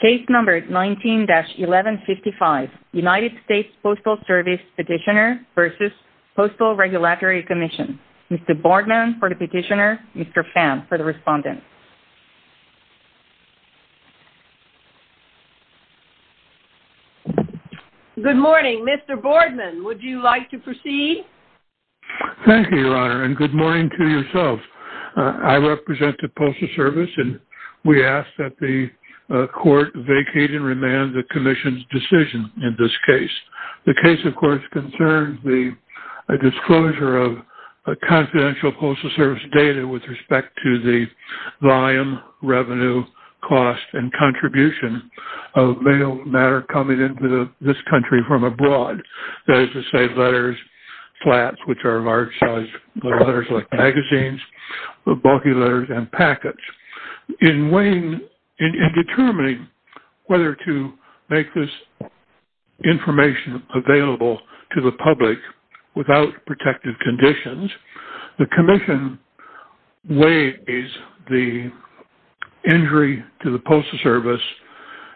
Case number 19-1155, United States Postal Service Petitioner v. Postal Regulatory Commission. Mr. Boardman for the petitioner, Mr. Pham for the respondent. Good morning. Mr. Boardman, would you like to proceed? Thank you, Your Honor, and good morning to yourself. I represent the Postal Service, and we ask that the Court vacate and remand the Commission's decision in this case. The case, of course, concerns the disclosure of confidential Postal Service data with respect to the volume, revenue, cost, and contribution of mail matter coming into this country from abroad. That is to say, letters, flats, which are large-sized letters like magazines, bulky letters, and packets. In determining whether to make this information available to the public without protective conditions, the Commission weighs the injury to the Postal Service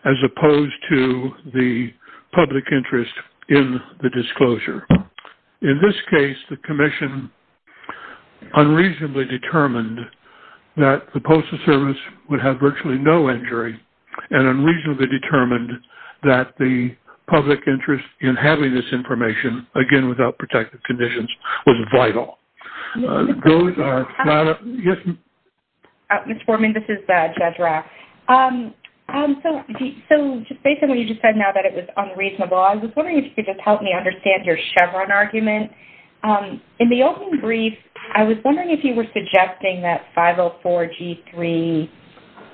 as opposed to the public interest in the disclosure. In this case, the Commission unreasonably determined that the Postal Service would have virtually no injury and unreasonably determined that the public interest in having this information, again, without protective conditions, was vital. Ms. Boardman, this is Jedra. So, just based on what you just said now that it was unreasonable, I was wondering if you could just help me understand your Chevron argument. In the opening brief, I was wondering if you were suggesting that 504-G3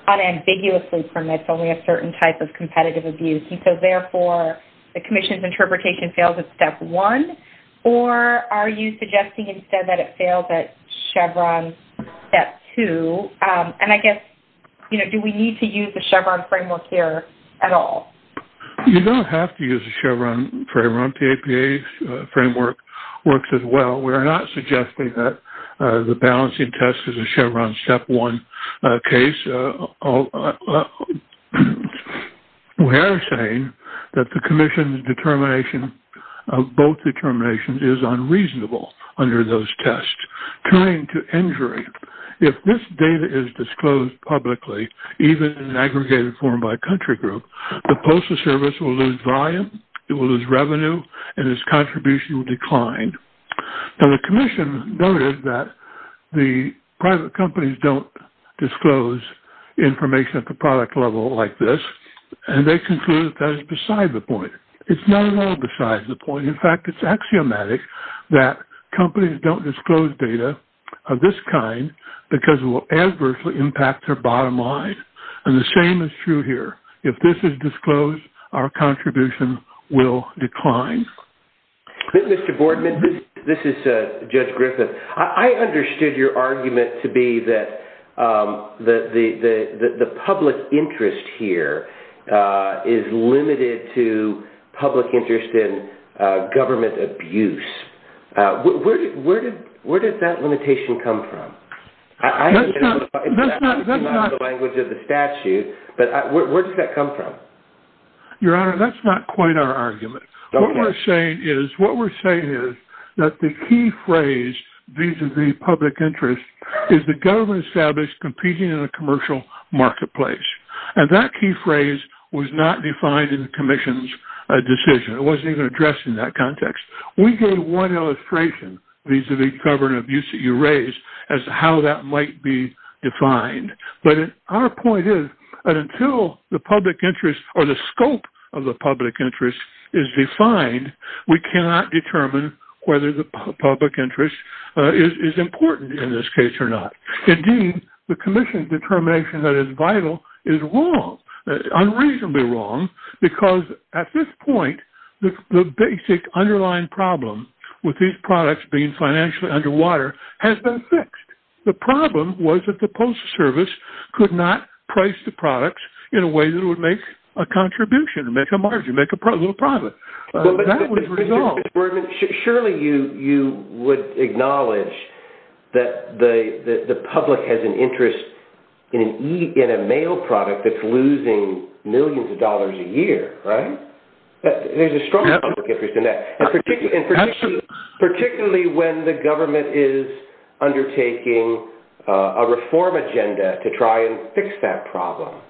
unambiguously permits only a certain type of competitive abuse, and so, therefore, the Commission's interpretation fails at Step 1, or are you suggesting instead that it fails at Chevron Step 2? And I guess, you know, do we need to use the Chevron framework here at all? You don't have to use the Chevron framework. The APA framework works as well. We are not suggesting that the balancing test is a Chevron Step 1 case. We are saying that the Commission's determination of both determinations is unreasonable under those tests. Turning to injury, if this data is disclosed publicly, even in aggregated form by country group, the Postal Service will lose volume, it will lose revenue, and its contribution will decline. Now, the Commission noted that the private companies don't disclose information at the product level like this, and they conclude that that is beside the point. It's not at all beside the point. In fact, it's axiomatic that companies don't disclose data of this kind because it will adversely impact their bottom line. And the same is true here. If this is disclosed, our contribution will decline. Mr. Boardman, this is Judge Griffith. I understood your argument to be that the public interest here is limited to public interest in government abuse. Where did that limitation come from? That's not – That's not the language of the statute, but where did that come from? Your Honor, that's not quite our argument. What we're saying is that the key phrase, vis-à-vis public interest, is the government established competing in a commercial marketplace. And that key phrase was not defined in the Commission's decision. It wasn't even addressed in that context. We gave one illustration vis-à-vis government abuse that you raised as to how that might be defined. But our point is that until the public interest or the scope of the public interest is defined, we cannot determine whether the public interest is important in this case or not. Indeed, the Commission's determination that it's vital is wrong, unreasonably wrong, because at this point, the basic underlying problem with these products being financially underwater has been fixed. The problem was that the Postal Service could not price the products in a way that would make a contribution, make a margin, make a little profit. Surely you would acknowledge that the public has an interest in a mail product that's losing millions of dollars a year, right? There's a strong public interest in that, particularly when the government is undertaking a reform agenda to try and fix that problem,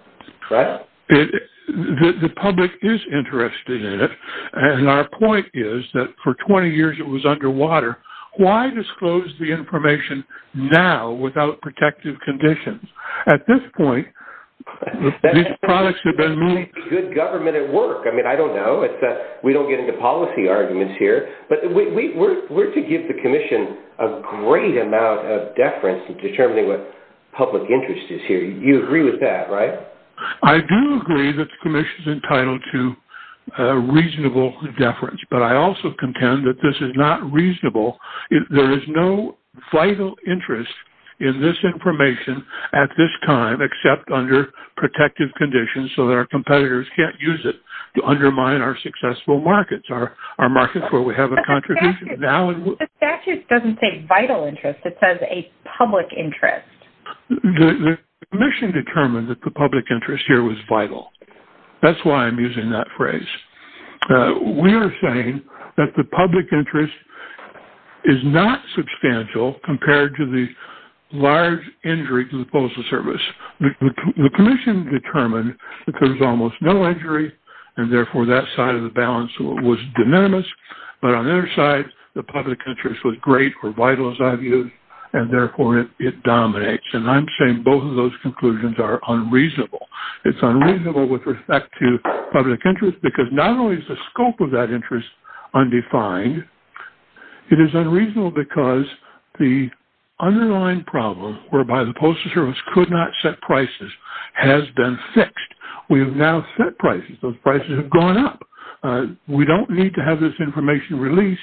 right? The public is interested in it, and our point is that for 20 years it was underwater. Why disclose the information now without protective conditions? At this point, these products have been moved. Good government at work. I mean, I don't know. We don't get into policy arguments here. But we're to give the Commission a great amount of deference in determining what public interest is here. You agree with that, right? I do agree that the Commission is entitled to reasonable deference, but I also contend that this is not reasonable. There is no vital interest in this information at this time except under protective conditions so that our competitors can't use it to undermine our successful markets, our markets where we have a contribution. The statute doesn't say vital interest. It says a public interest. The Commission determined that the public interest here was vital. That's why I'm using that phrase. We are saying that the public interest is not substantial compared to the large injury to the Postal Service. The Commission determined that there was almost no injury, and therefore that side of the balance was de minimis. But on the other side, the public interest was great or vital, as I've used, and therefore it dominates. And I'm saying both of those conclusions are unreasonable. It's unreasonable with respect to public interest because not only is the scope of that interest undefined, it is unreasonable because the underlying problem whereby the Postal Service could not set prices has been fixed. We have now set prices. Those prices have gone up. We don't need to have this information released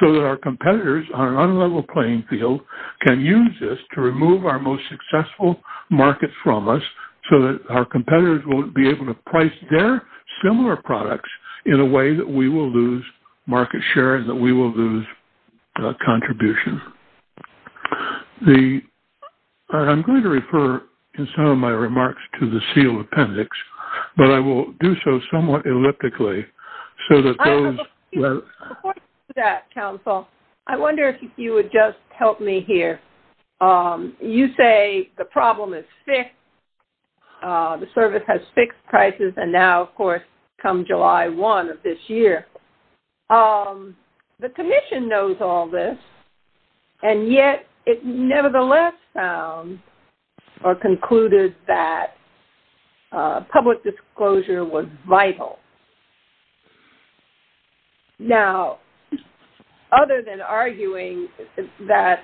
so that our competitors on an unlevel playing field can use this to remove our most successful markets from us so that our competitors won't be able to price their similar products in a way that we will lose market share and that we will lose contribution. I'm going to refer, in some of my remarks, to the sealed appendix, but I will do so somewhat elliptically. I have a few points to that, Council. I wonder if you would just help me here. You say the problem is fixed. The Service has fixed prices, and now, of course, come July 1 of this year. The Commission knows all this, and yet it nevertheless found or concluded that public disclosure was vital. Now, other than arguing that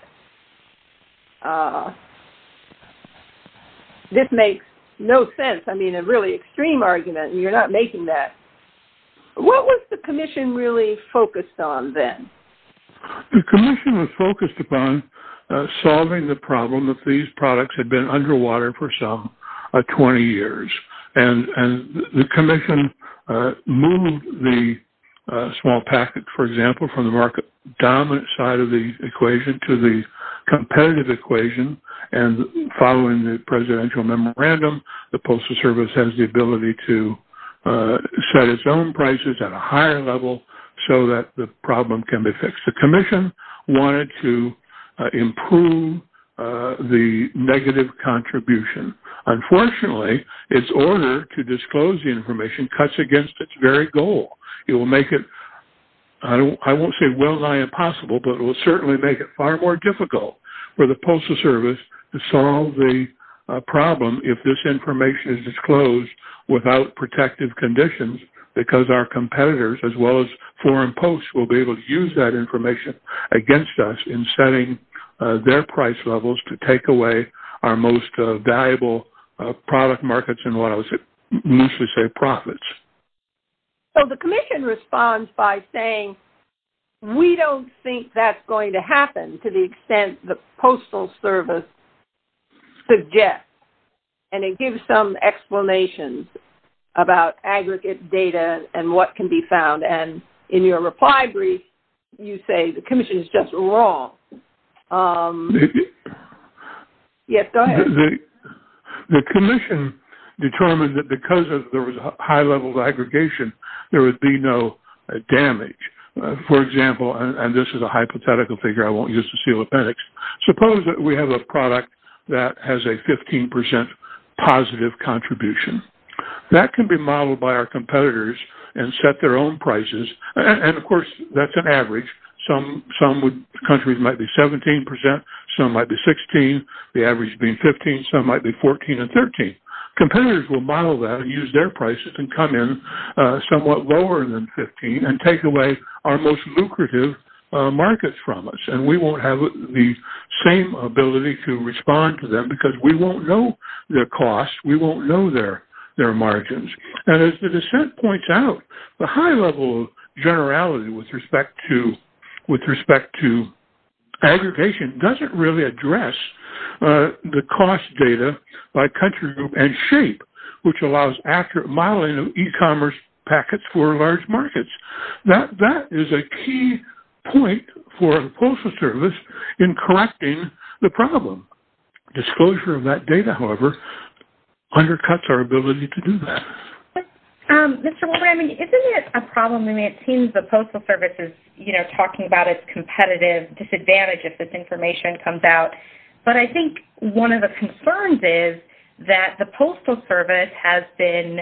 this makes no sense, I mean, a really extreme argument, and you're not making that, what was the Commission really focused on then? The Commission was focused upon solving the problem that these products had been underwater for some 20 years. The Commission moved the small packet, for example, from the market-dominant side of the equation to the competitive equation, and following the presidential memorandum, the Postal Service has the ability to set its own prices at a higher level so that the problem can be fixed. The Commission wanted to improve the negative contribution. Unfortunately, its order to disclose the information cuts against its very goal. I won't say well-nigh impossible, but it will certainly make it far more difficult for the Postal Service to solve the problem if this information is disclosed without protective conditions, because our competitors, as well as foreign posts, will be able to use that information against us in setting their price levels to take away our most valuable product markets and, what I would loosely say, profits. So the Commission responds by saying, we don't think that's going to happen to the extent the Postal Service suggests, and it gives some explanations about aggregate data and what can be found, and in your reply brief, you say the Commission is just wrong. Yes, go ahead. The Commission determined that because there was a high level of aggregation, there would be no damage. For example, and this is a hypothetical figure I won't use to seal appendix, suppose that we have a product that has a 15% positive contribution. That can be modeled by our competitors and set their own prices, and of course, that's an average. Some countries might be 17%, some might be 16%, the average being 15%, some might be 14% and 13%. Competitors will model that and use their prices and come in somewhat lower than 15% and take away our most lucrative markets from us, and we won't have the same ability to respond to them because we won't know their costs, we won't know their margins. And as the dissent points out, the high level of generality with respect to aggregation doesn't really address the cost data by country and shape, which allows accurate modeling of e-commerce packets for large markets. That is a key point for the Postal Service in correcting the problem. Disclosure of that data, however, undercuts our ability to do that. Mr. Wolber, I mean, isn't it a problem? I mean, it seems the Postal Service is, you know, talking about its competitive disadvantage if this information comes out. But I think one of the concerns is that the Postal Service has been,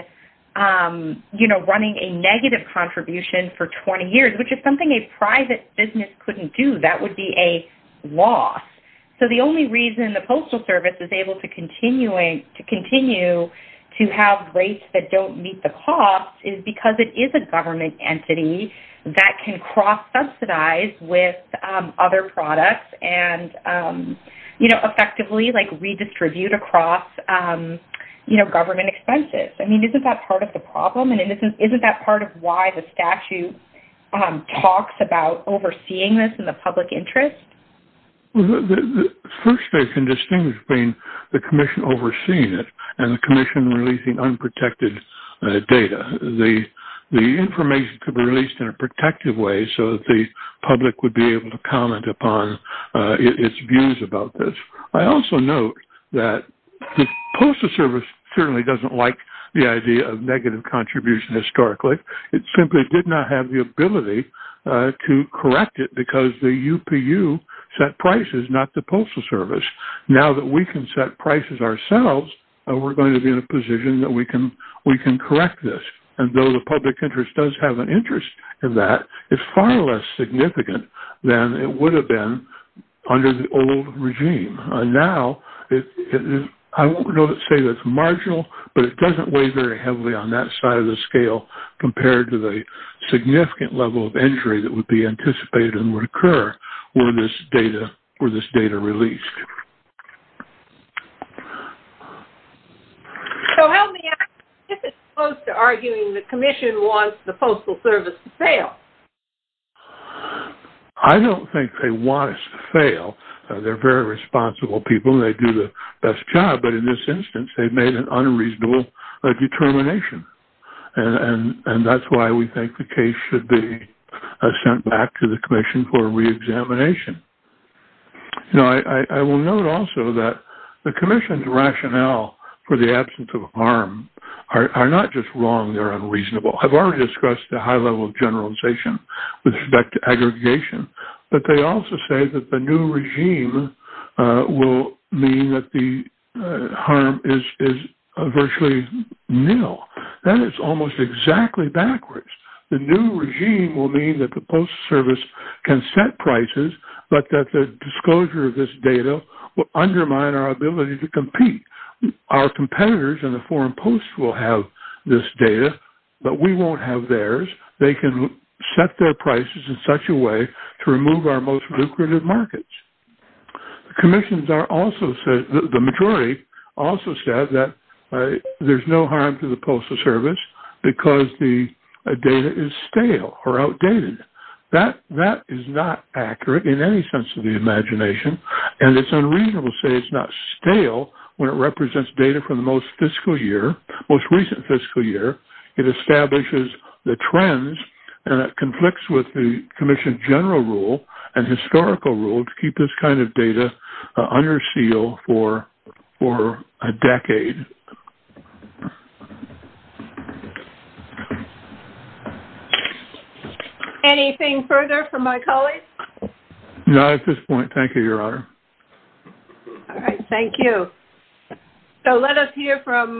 you know, running a negative contribution for 20 years, which is something a private business couldn't do. That would be a loss. So the only reason the Postal Service is able to continue to have rates that don't meet the cost is because it is a government entity that can cross-subsidize with other products and, you know, effectively, like, redistribute across, you know, government expenses. I mean, isn't that part of the problem? And isn't that part of why the statute talks about overseeing this in the public interest? Well, the first thing I can distinguish between the commission overseeing it and the commission releasing unprotected data, the information could be released in a protective way so that the public would be able to comment upon its views about this. I also note that the Postal Service certainly doesn't like the idea of negative contribution historically. It simply did not have the ability to correct it because the UPU set prices, not the Postal Service. Now that we can set prices ourselves, we're going to be in a position that we can correct this. And though the public interest does have an interest in that, it's far less significant than it would have been under the old regime. Now, I won't say that it's marginal, but it doesn't weigh very heavily on that side of the scale compared to the significant level of injury that would be anticipated and would occur were this data released. So help me out. This is close to arguing the commission wants the Postal Service to fail. I don't think they want us to fail. They're very responsible people, and they do the best job. But in this instance, they've made an unreasonable determination, and that's why we think the case should be sent back to the commission for reexamination. Now, I will note also that the commission's rationale for the absence of harm are not just wrong, they're unreasonable. I've already discussed the high level of generalization with respect to aggregation, but they also say that the new regime will mean that the harm is virtually nil. That is almost exactly backwards. The new regime will mean that the Postal Service can set prices, but that the disclosure of this data will undermine our ability to compete. Our competitors in the Foreign Post will have this data, but we won't have theirs. They can set their prices in such a way to remove our most lucrative markets. The majority also said that there's no harm to the Postal Service because the data is stale or outdated. That is not accurate in any sense of the imagination, and it's unreasonable to say it's not stale when it represents data from the most recent fiscal year. It establishes the trends and it conflicts with the commission's general rule and historical rule to keep this kind of data under seal for a decade. Anything further from my colleagues? Not at this point. Thank you, Your Honor. All right. Thank you. So let us hear from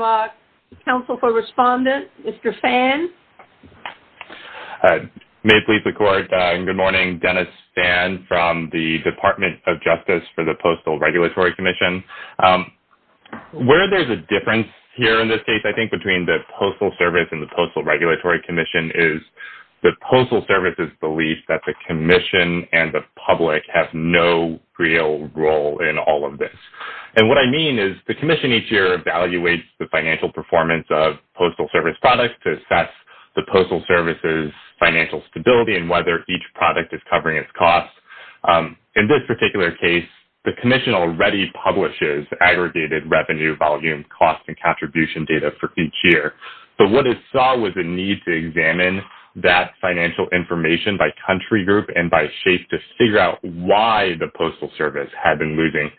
counsel for respondent, Mr. Phan. May it please the Court, good morning. Dennis Phan from the Department of Justice for the Postal Regulatory Commission. Where there's a difference here in this case I think between the Postal Service and the Postal Regulatory Commission is the Postal Service's belief that the commission and the public have no real role in all of this. And what I mean is the commission each year evaluates the financial performance of postal service products to assess the Postal Service's financial stability and whether each product is covering its costs. In this particular case, the commission already publishes aggregated revenue, volume, cost, and contribution data for each year. So what it saw was a need to examine that financial information by country group and by shape to figure out why the Postal Service had been losing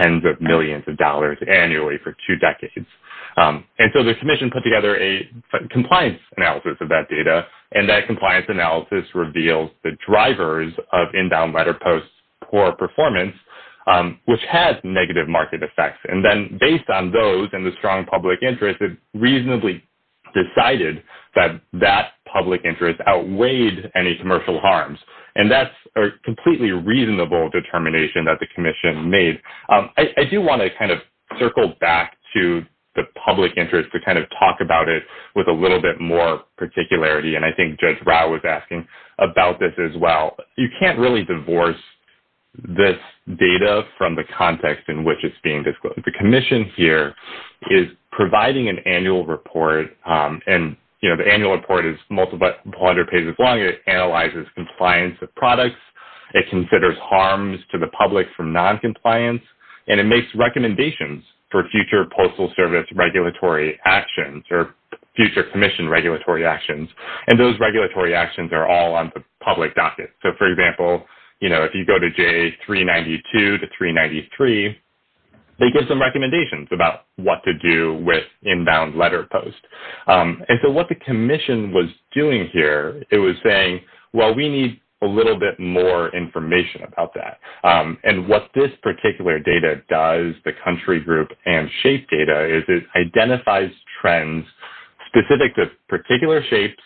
tens of millions of dollars annually for two decades. And so the commission put together a compliance analysis of that data, and that compliance analysis revealed the drivers of inbound letter posts' poor performance, which had negative market effects. And then based on those and the strong public interest, it reasonably decided that that public interest outweighed any commercial harms. And that's a completely reasonable determination that the commission made. I do want to kind of circle back to the public interest to kind of talk about it with a little bit more particularity, and I think Judge Rao was asking about this as well. You can't really divorce this data from the context in which it's being disclosed. The commission here is providing an annual report, and the annual report is 100 pages long. It analyzes compliance of products. It considers harms to the public from noncompliance, and it makes recommendations for future Postal Service regulatory actions or future commission regulatory actions. And those regulatory actions are all on the public docket. So, for example, you know, if you go to J392 to 393, they give some recommendations about what to do with inbound letter posts. And so what the commission was doing here, it was saying, well, we need a little bit more information about that. And what this particular data does, the country group and shape data, is it identifies trends specific to particular shapes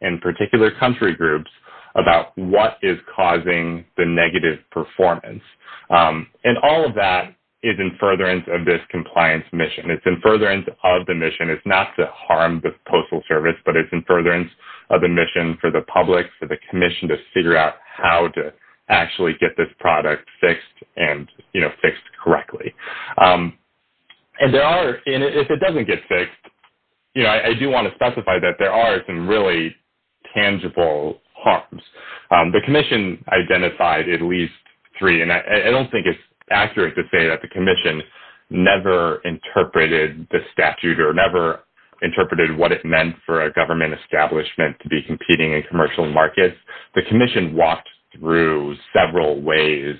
and particular country groups about what is causing the negative performance. And all of that is in furtherance of this compliance mission. It's in furtherance of the mission. It's not to harm the Postal Service, but it's in furtherance of the mission for the public, for the commission, to figure out how to actually get this product fixed and, you know, fixed correctly. And if it doesn't get fixed, you know, I do want to specify that there are some really tangible harms. The commission identified at least three, and I don't think it's accurate to say that the commission never interpreted the statute or never interpreted what it meant for a government establishment to be competing in commercial markets. The commission walked through several ways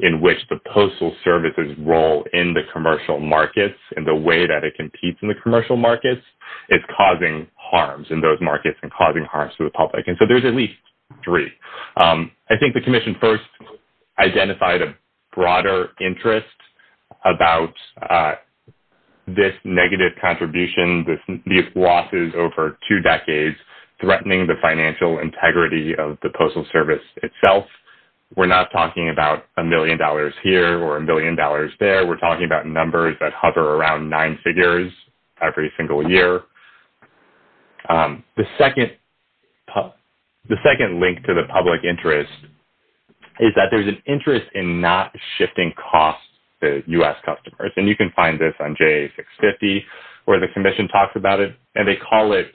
in which the Postal Service's role in the commercial markets and the way that it competes in the commercial markets is causing harms in those markets and causing harms to the public. And so there's at least three. I think the commission first identified a broader interest about this negative contribution, these losses over two decades, threatening the financial integrity of the Postal Service itself. We're not talking about a million dollars here or a million dollars there. We're talking about numbers that hover around nine figures every single year. The second link to the public interest is that there's an interest in not shifting costs to U.S. customers. And you can find this on JA650 where the commission talks about it, and they call it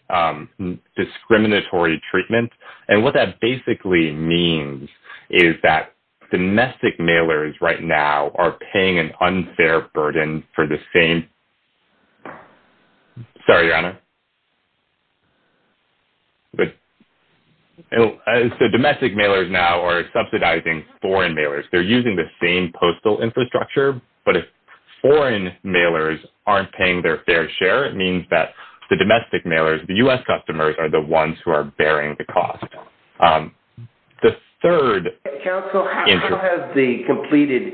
discriminatory treatment. And what that basically means is that domestic mailers right now are paying an unfair burden for the same – sorry, Your Honor. So domestic mailers now are subsidizing foreign mailers. They're using the same postal infrastructure, but if foreign mailers aren't paying their fair share, it means that the domestic mailers, the U.S. customers, are the ones who are bearing the cost. The third – Counsel, how has the completed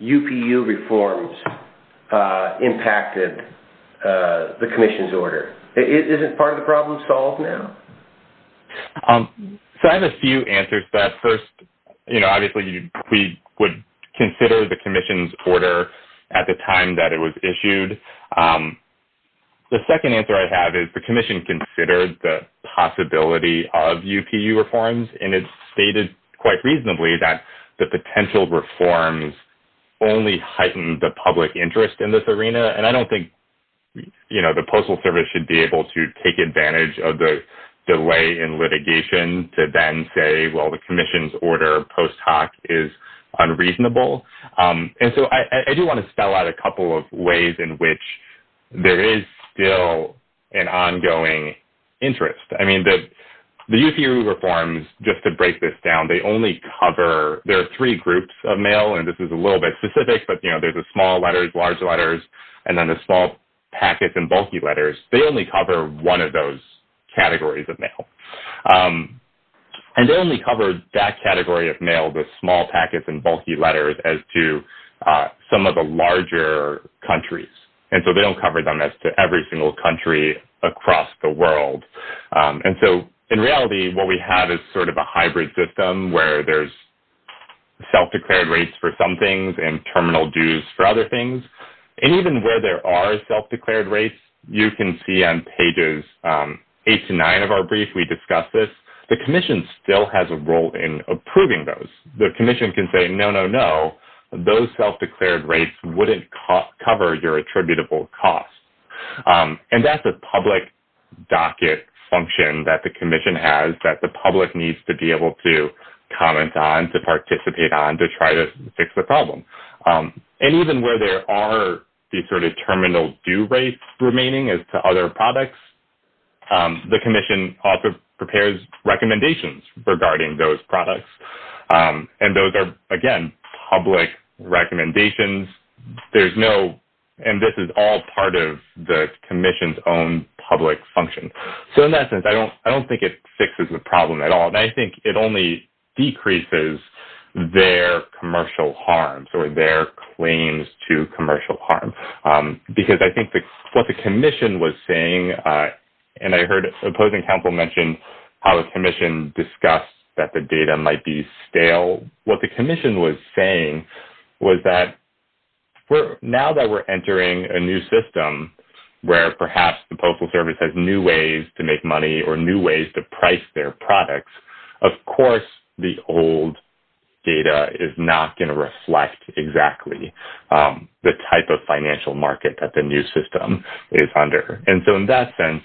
UPU reforms impacted the commission's order? Is it part of the problem solved now? So I have a few answers to that. First, you know, obviously we would consider the commission's order at the time that it was issued. The second answer I have is the commission considered the possibility of UPU reforms, and it's stated quite reasonably that the potential reforms only heightened the public interest in this arena. And I don't think, you know, the Postal Service should be able to take advantage of the delay in litigation to then say, well, the commission's order post hoc is unreasonable. And so I do want to spell out a couple of ways in which there is still an ongoing interest. I mean, the UPU reforms, just to break this down, they only cover – there are three groups of mail, and this is a little bit specific, but, you know, there's the small letters, large letters, and then the small packets and bulky letters. They only cover one of those categories of mail. And they only cover that category of mail, the small packets and bulky letters, as to some of the larger countries. And so they don't cover them as to every single country across the world. And so in reality, what we have is sort of a hybrid system where there's self-declared rates for some things and terminal dues for other things. And even where there are self-declared rates, you can see on pages eight to nine of our brief, we discussed this. The commission still has a role in approving those. The commission can say, no, no, no, those self-declared rates wouldn't cover your attributable costs. And that's a public docket function that the commission has that the public needs to be able to comment on, to participate on, to try to fix the problem. And even where there are these sort of terminal due rates remaining as to other products, the commission also prepares recommendations regarding those products. And those are, again, public recommendations. There's no, and this is all part of the commission's own public function. So in that sense, I don't, I don't think it fixes the problem at all. And I think it only decreases their commercial harms or their claims to And I heard opposing counsel mentioned how a commission discussed that the data might be stale. What the commission was saying was that we're now that we're entering a new system where perhaps the postal service has new ways to make money or new ways to price their products. Of course the old data is not going to reflect exactly the type of financial market that the new system is under. And so in that sense,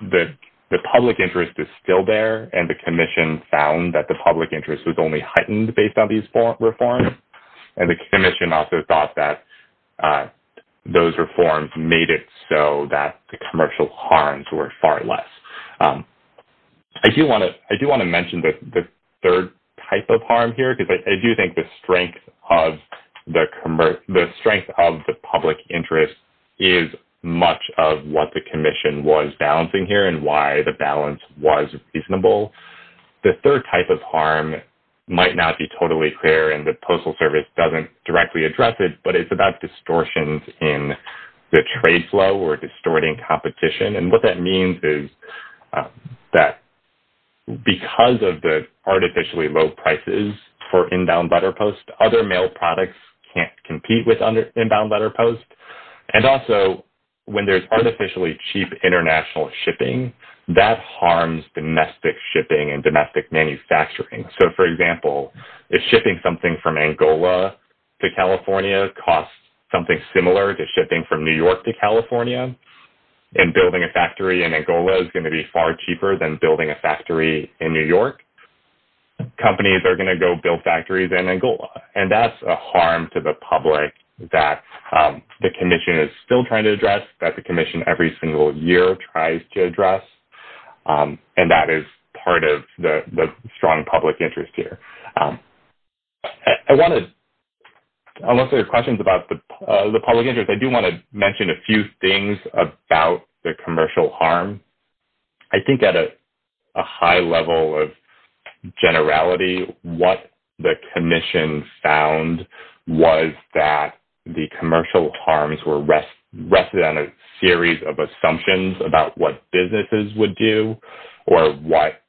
the public interest is still there. And the commission found that the public interest was only heightened based on these four reforms. And the commission also thought that those reforms made it so that the commercial harms were far less. I do want to, I do want to mention that the third type of harm here, because I do think the strength of the commerce, the strength of the public interest is much of what the commission was balancing here and why the balance was reasonable. The third type of harm might not be totally clear and the postal service doesn't directly address it, but it's about distortions in the trade flow or distorting competition. And what that means is that because of the artificially low prices for in bound letter posts, and also when there's artificially cheap international shipping, that harms domestic shipping and domestic manufacturing. So for example, if shipping something from Angola to California costs something similar to shipping from New York to California and building a factory in Angola is going to be far cheaper than building a factory in New York, companies are going to go build factories in Angola. And that's a harm to the public that the commission is still trying to address that the commission every single year tries to address. And that is part of the strong public interest here. I want to, unless there are questions about the public interest, I do want to mention a few things about the commercial harm. I think at a high level of generality, what the commission found was that the commercial harms were rested on a series of assumptions about what businesses would do or what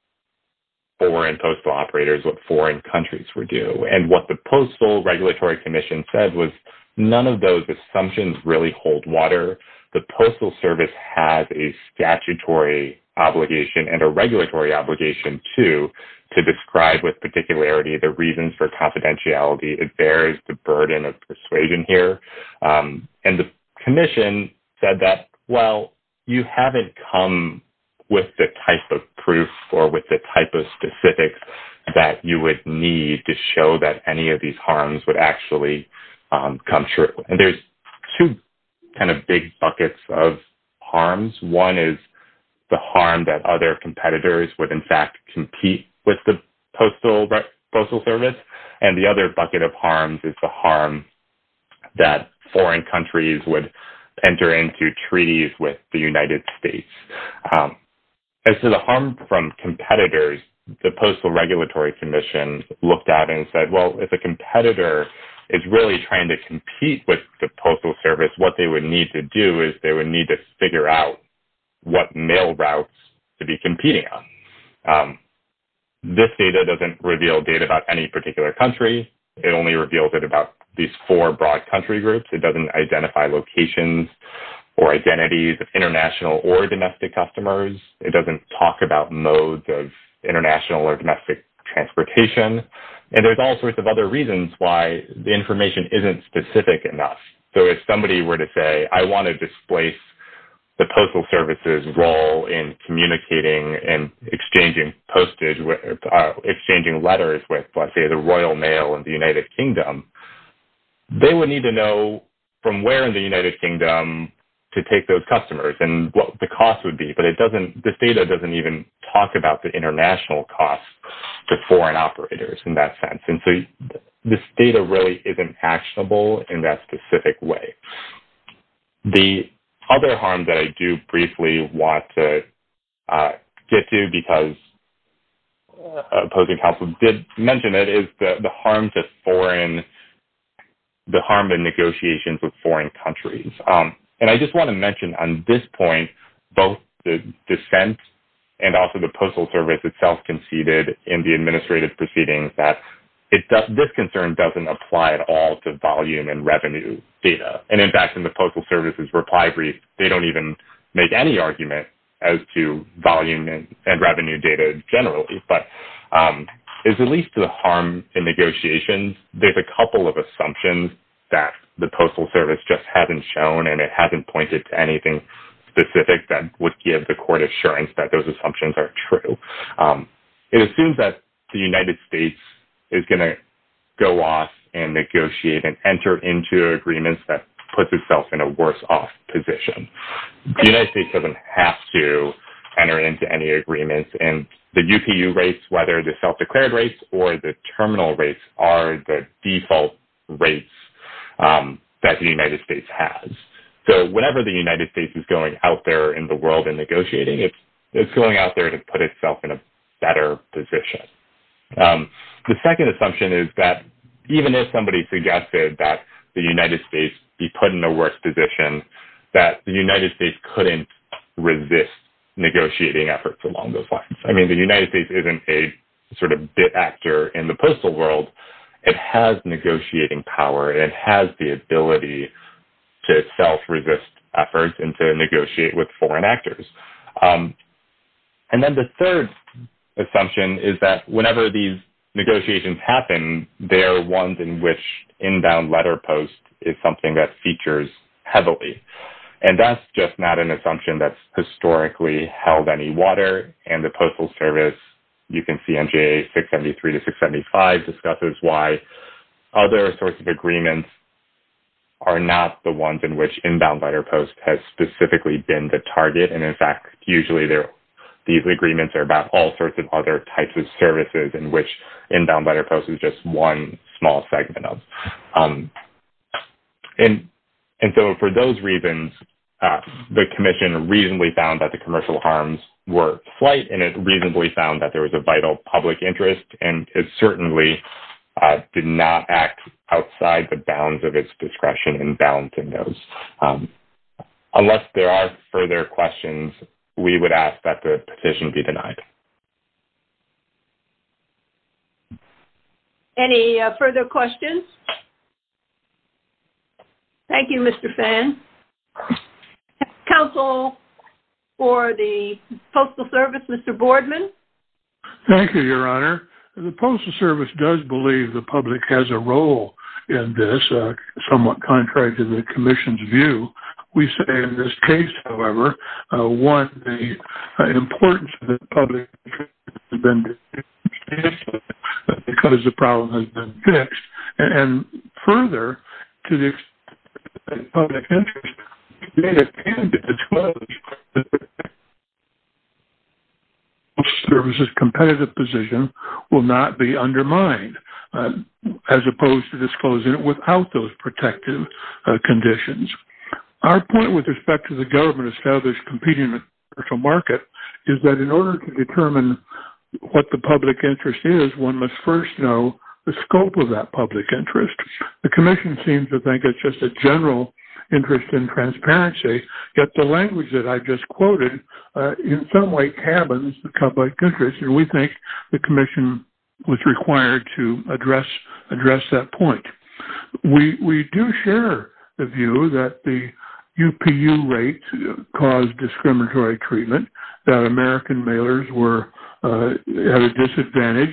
foreign postal operators, what foreign countries were doing and what the postal regulatory commission said was none of those assumptions really hold water. The postal service has a statutory obligation and a regulatory obligation to, to describe with particularity, the reasons for confidentiality, it bears the burden of persuasion here. And the commission said that, well, you haven't come with the type of proof or with the type of specifics that you would need to show that any of these harms would actually come true. And there's two kind of big buckets of harms. One is the harm that other competitors would in fact compete with the postal postal service. And the other bucket of harms is the harm that foreign countries would enter into treaties with the United States. As to the harm from competitors, the postal regulatory commission looked at and said, well, if a competitor is really trying to compete with the postal service, what they would need to do is they would need to figure out what mail routes to be competing on. This data doesn't reveal data about any particular country. It only reveals it about these four broad country groups. It doesn't identify locations or identities of international or domestic customers. It doesn't talk about modes of international or domestic transportation. And there's all sorts of other reasons why the information isn't specific enough. So if somebody were to say, I want to displace the postal services role in communicating and exchanging postage, exchanging letters with, let's say, the Royal Mail in the United Kingdom, they would need to know from where in the United Kingdom to take those customers and what the cost would be. But it doesn't, this data doesn't even talk about the international costs to foreign operators in that sense. And so this data really isn't actionable in that specific way. The other harm that I do briefly want to get to, because opposing counsel did mention it, is the harm to foreign, the harm in negotiations with foreign countries. And I just want to mention on this point, both the dissent and also the postal service itself conceded in the report that this concern doesn't apply at all to volume and revenue data. And in fact, in the postal services reply brief, they don't even make any argument as to volume and revenue data generally, but it's at least the harm in negotiations. There's a couple of assumptions that the postal service just hasn't shown, and it hasn't pointed to anything specific that would give the court assurance that those assumptions are true. It assumes that the United States is going to go off and negotiate and enter into agreements that puts itself in a worse off position. The United States doesn't have to enter into any agreements and the UPU rates, whether the self-declared rates or the terminal rates are the default rates that the United States has. So whenever the United States is going out there in the world and negotiating, it's going out there to put itself in a better position. The second assumption is that even if somebody suggested that the United States be put in a worse position, that the United States couldn't resist negotiating efforts along those lines. I mean, the United States isn't a sort of bit actor in the postal world. It has negotiating power. It has the ability to self-resist efforts and to negotiate with foreign actors. And then the third assumption is that whenever these negotiations happen, they're ones in which inbound letter post is something that features heavily. And that's just not an assumption that's historically held any water and the postal service. You can see NGA 673 to 675 discusses why other sorts of agreements are not the ones in which inbound letter post has specifically been the target. And in fact, usually there these agreements are about all sorts of other types of services in which inbound letter post is just one small segment of. And, and so for those reasons, the commission reasonably found that the commercial harms were slight and it reasonably found that there was a vital public interest. And it certainly did not act outside the bounds of its discretion in balancing those. Unless there are further questions, we would ask that the position be denied. Any further questions. Thank you, Mr. Fan. Counsel for the postal service, Mr. Boardman. Thank you, Your Honor. The postal service does believe the public has a role in this somewhat contrary to the commission's view. We say in this case, however, one, the importance of the public because the problem has been fixed and further to the public interest services competitive position will not be undermined as opposed to disclosing it without those protective conditions. Our point with respect to the government established competing market is that in order to determine what the public interest is, one must first know the scope of that public interest. The commission seems to think it's just a general interest in transparency, yet the language that I just quoted in some way cabins the public interest. And we think the commission was required to address that point. We do share the view that the UPU rate caused discriminatory treatment, that American mailers were at a disadvantage.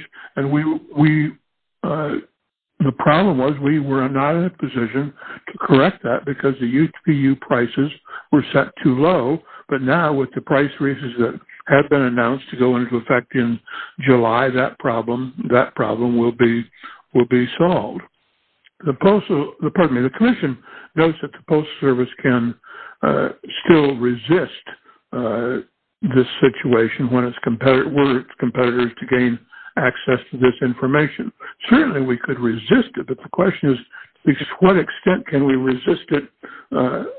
The problem was we were not in a position to correct that because the UPU prices were set too low. But now with the price raises that have been announced to go into effect in July, that problem, that problem will be, will be solved. The postal department, the commission knows that the post service can still resist this situation when it's competitive competitors to gain access to this information. Certainly we could resist it, but the question is to what extent can we resist it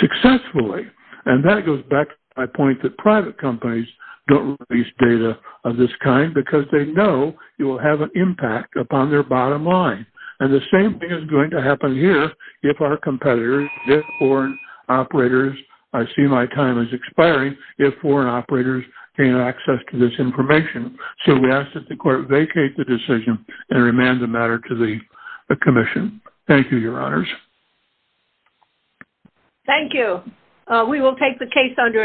successfully? And that goes back to my point that private companies don't release data of this kind because they know it will have an impact upon their bottom line. And the same thing is going to happen here if our competitors, if foreign operators, I see my time is expiring, if foreign operators gain access to this information. So we asked that the court vacate the decision and remand the matter to the commission. Thank you, your honors. Thank you. We will take the case under advisement.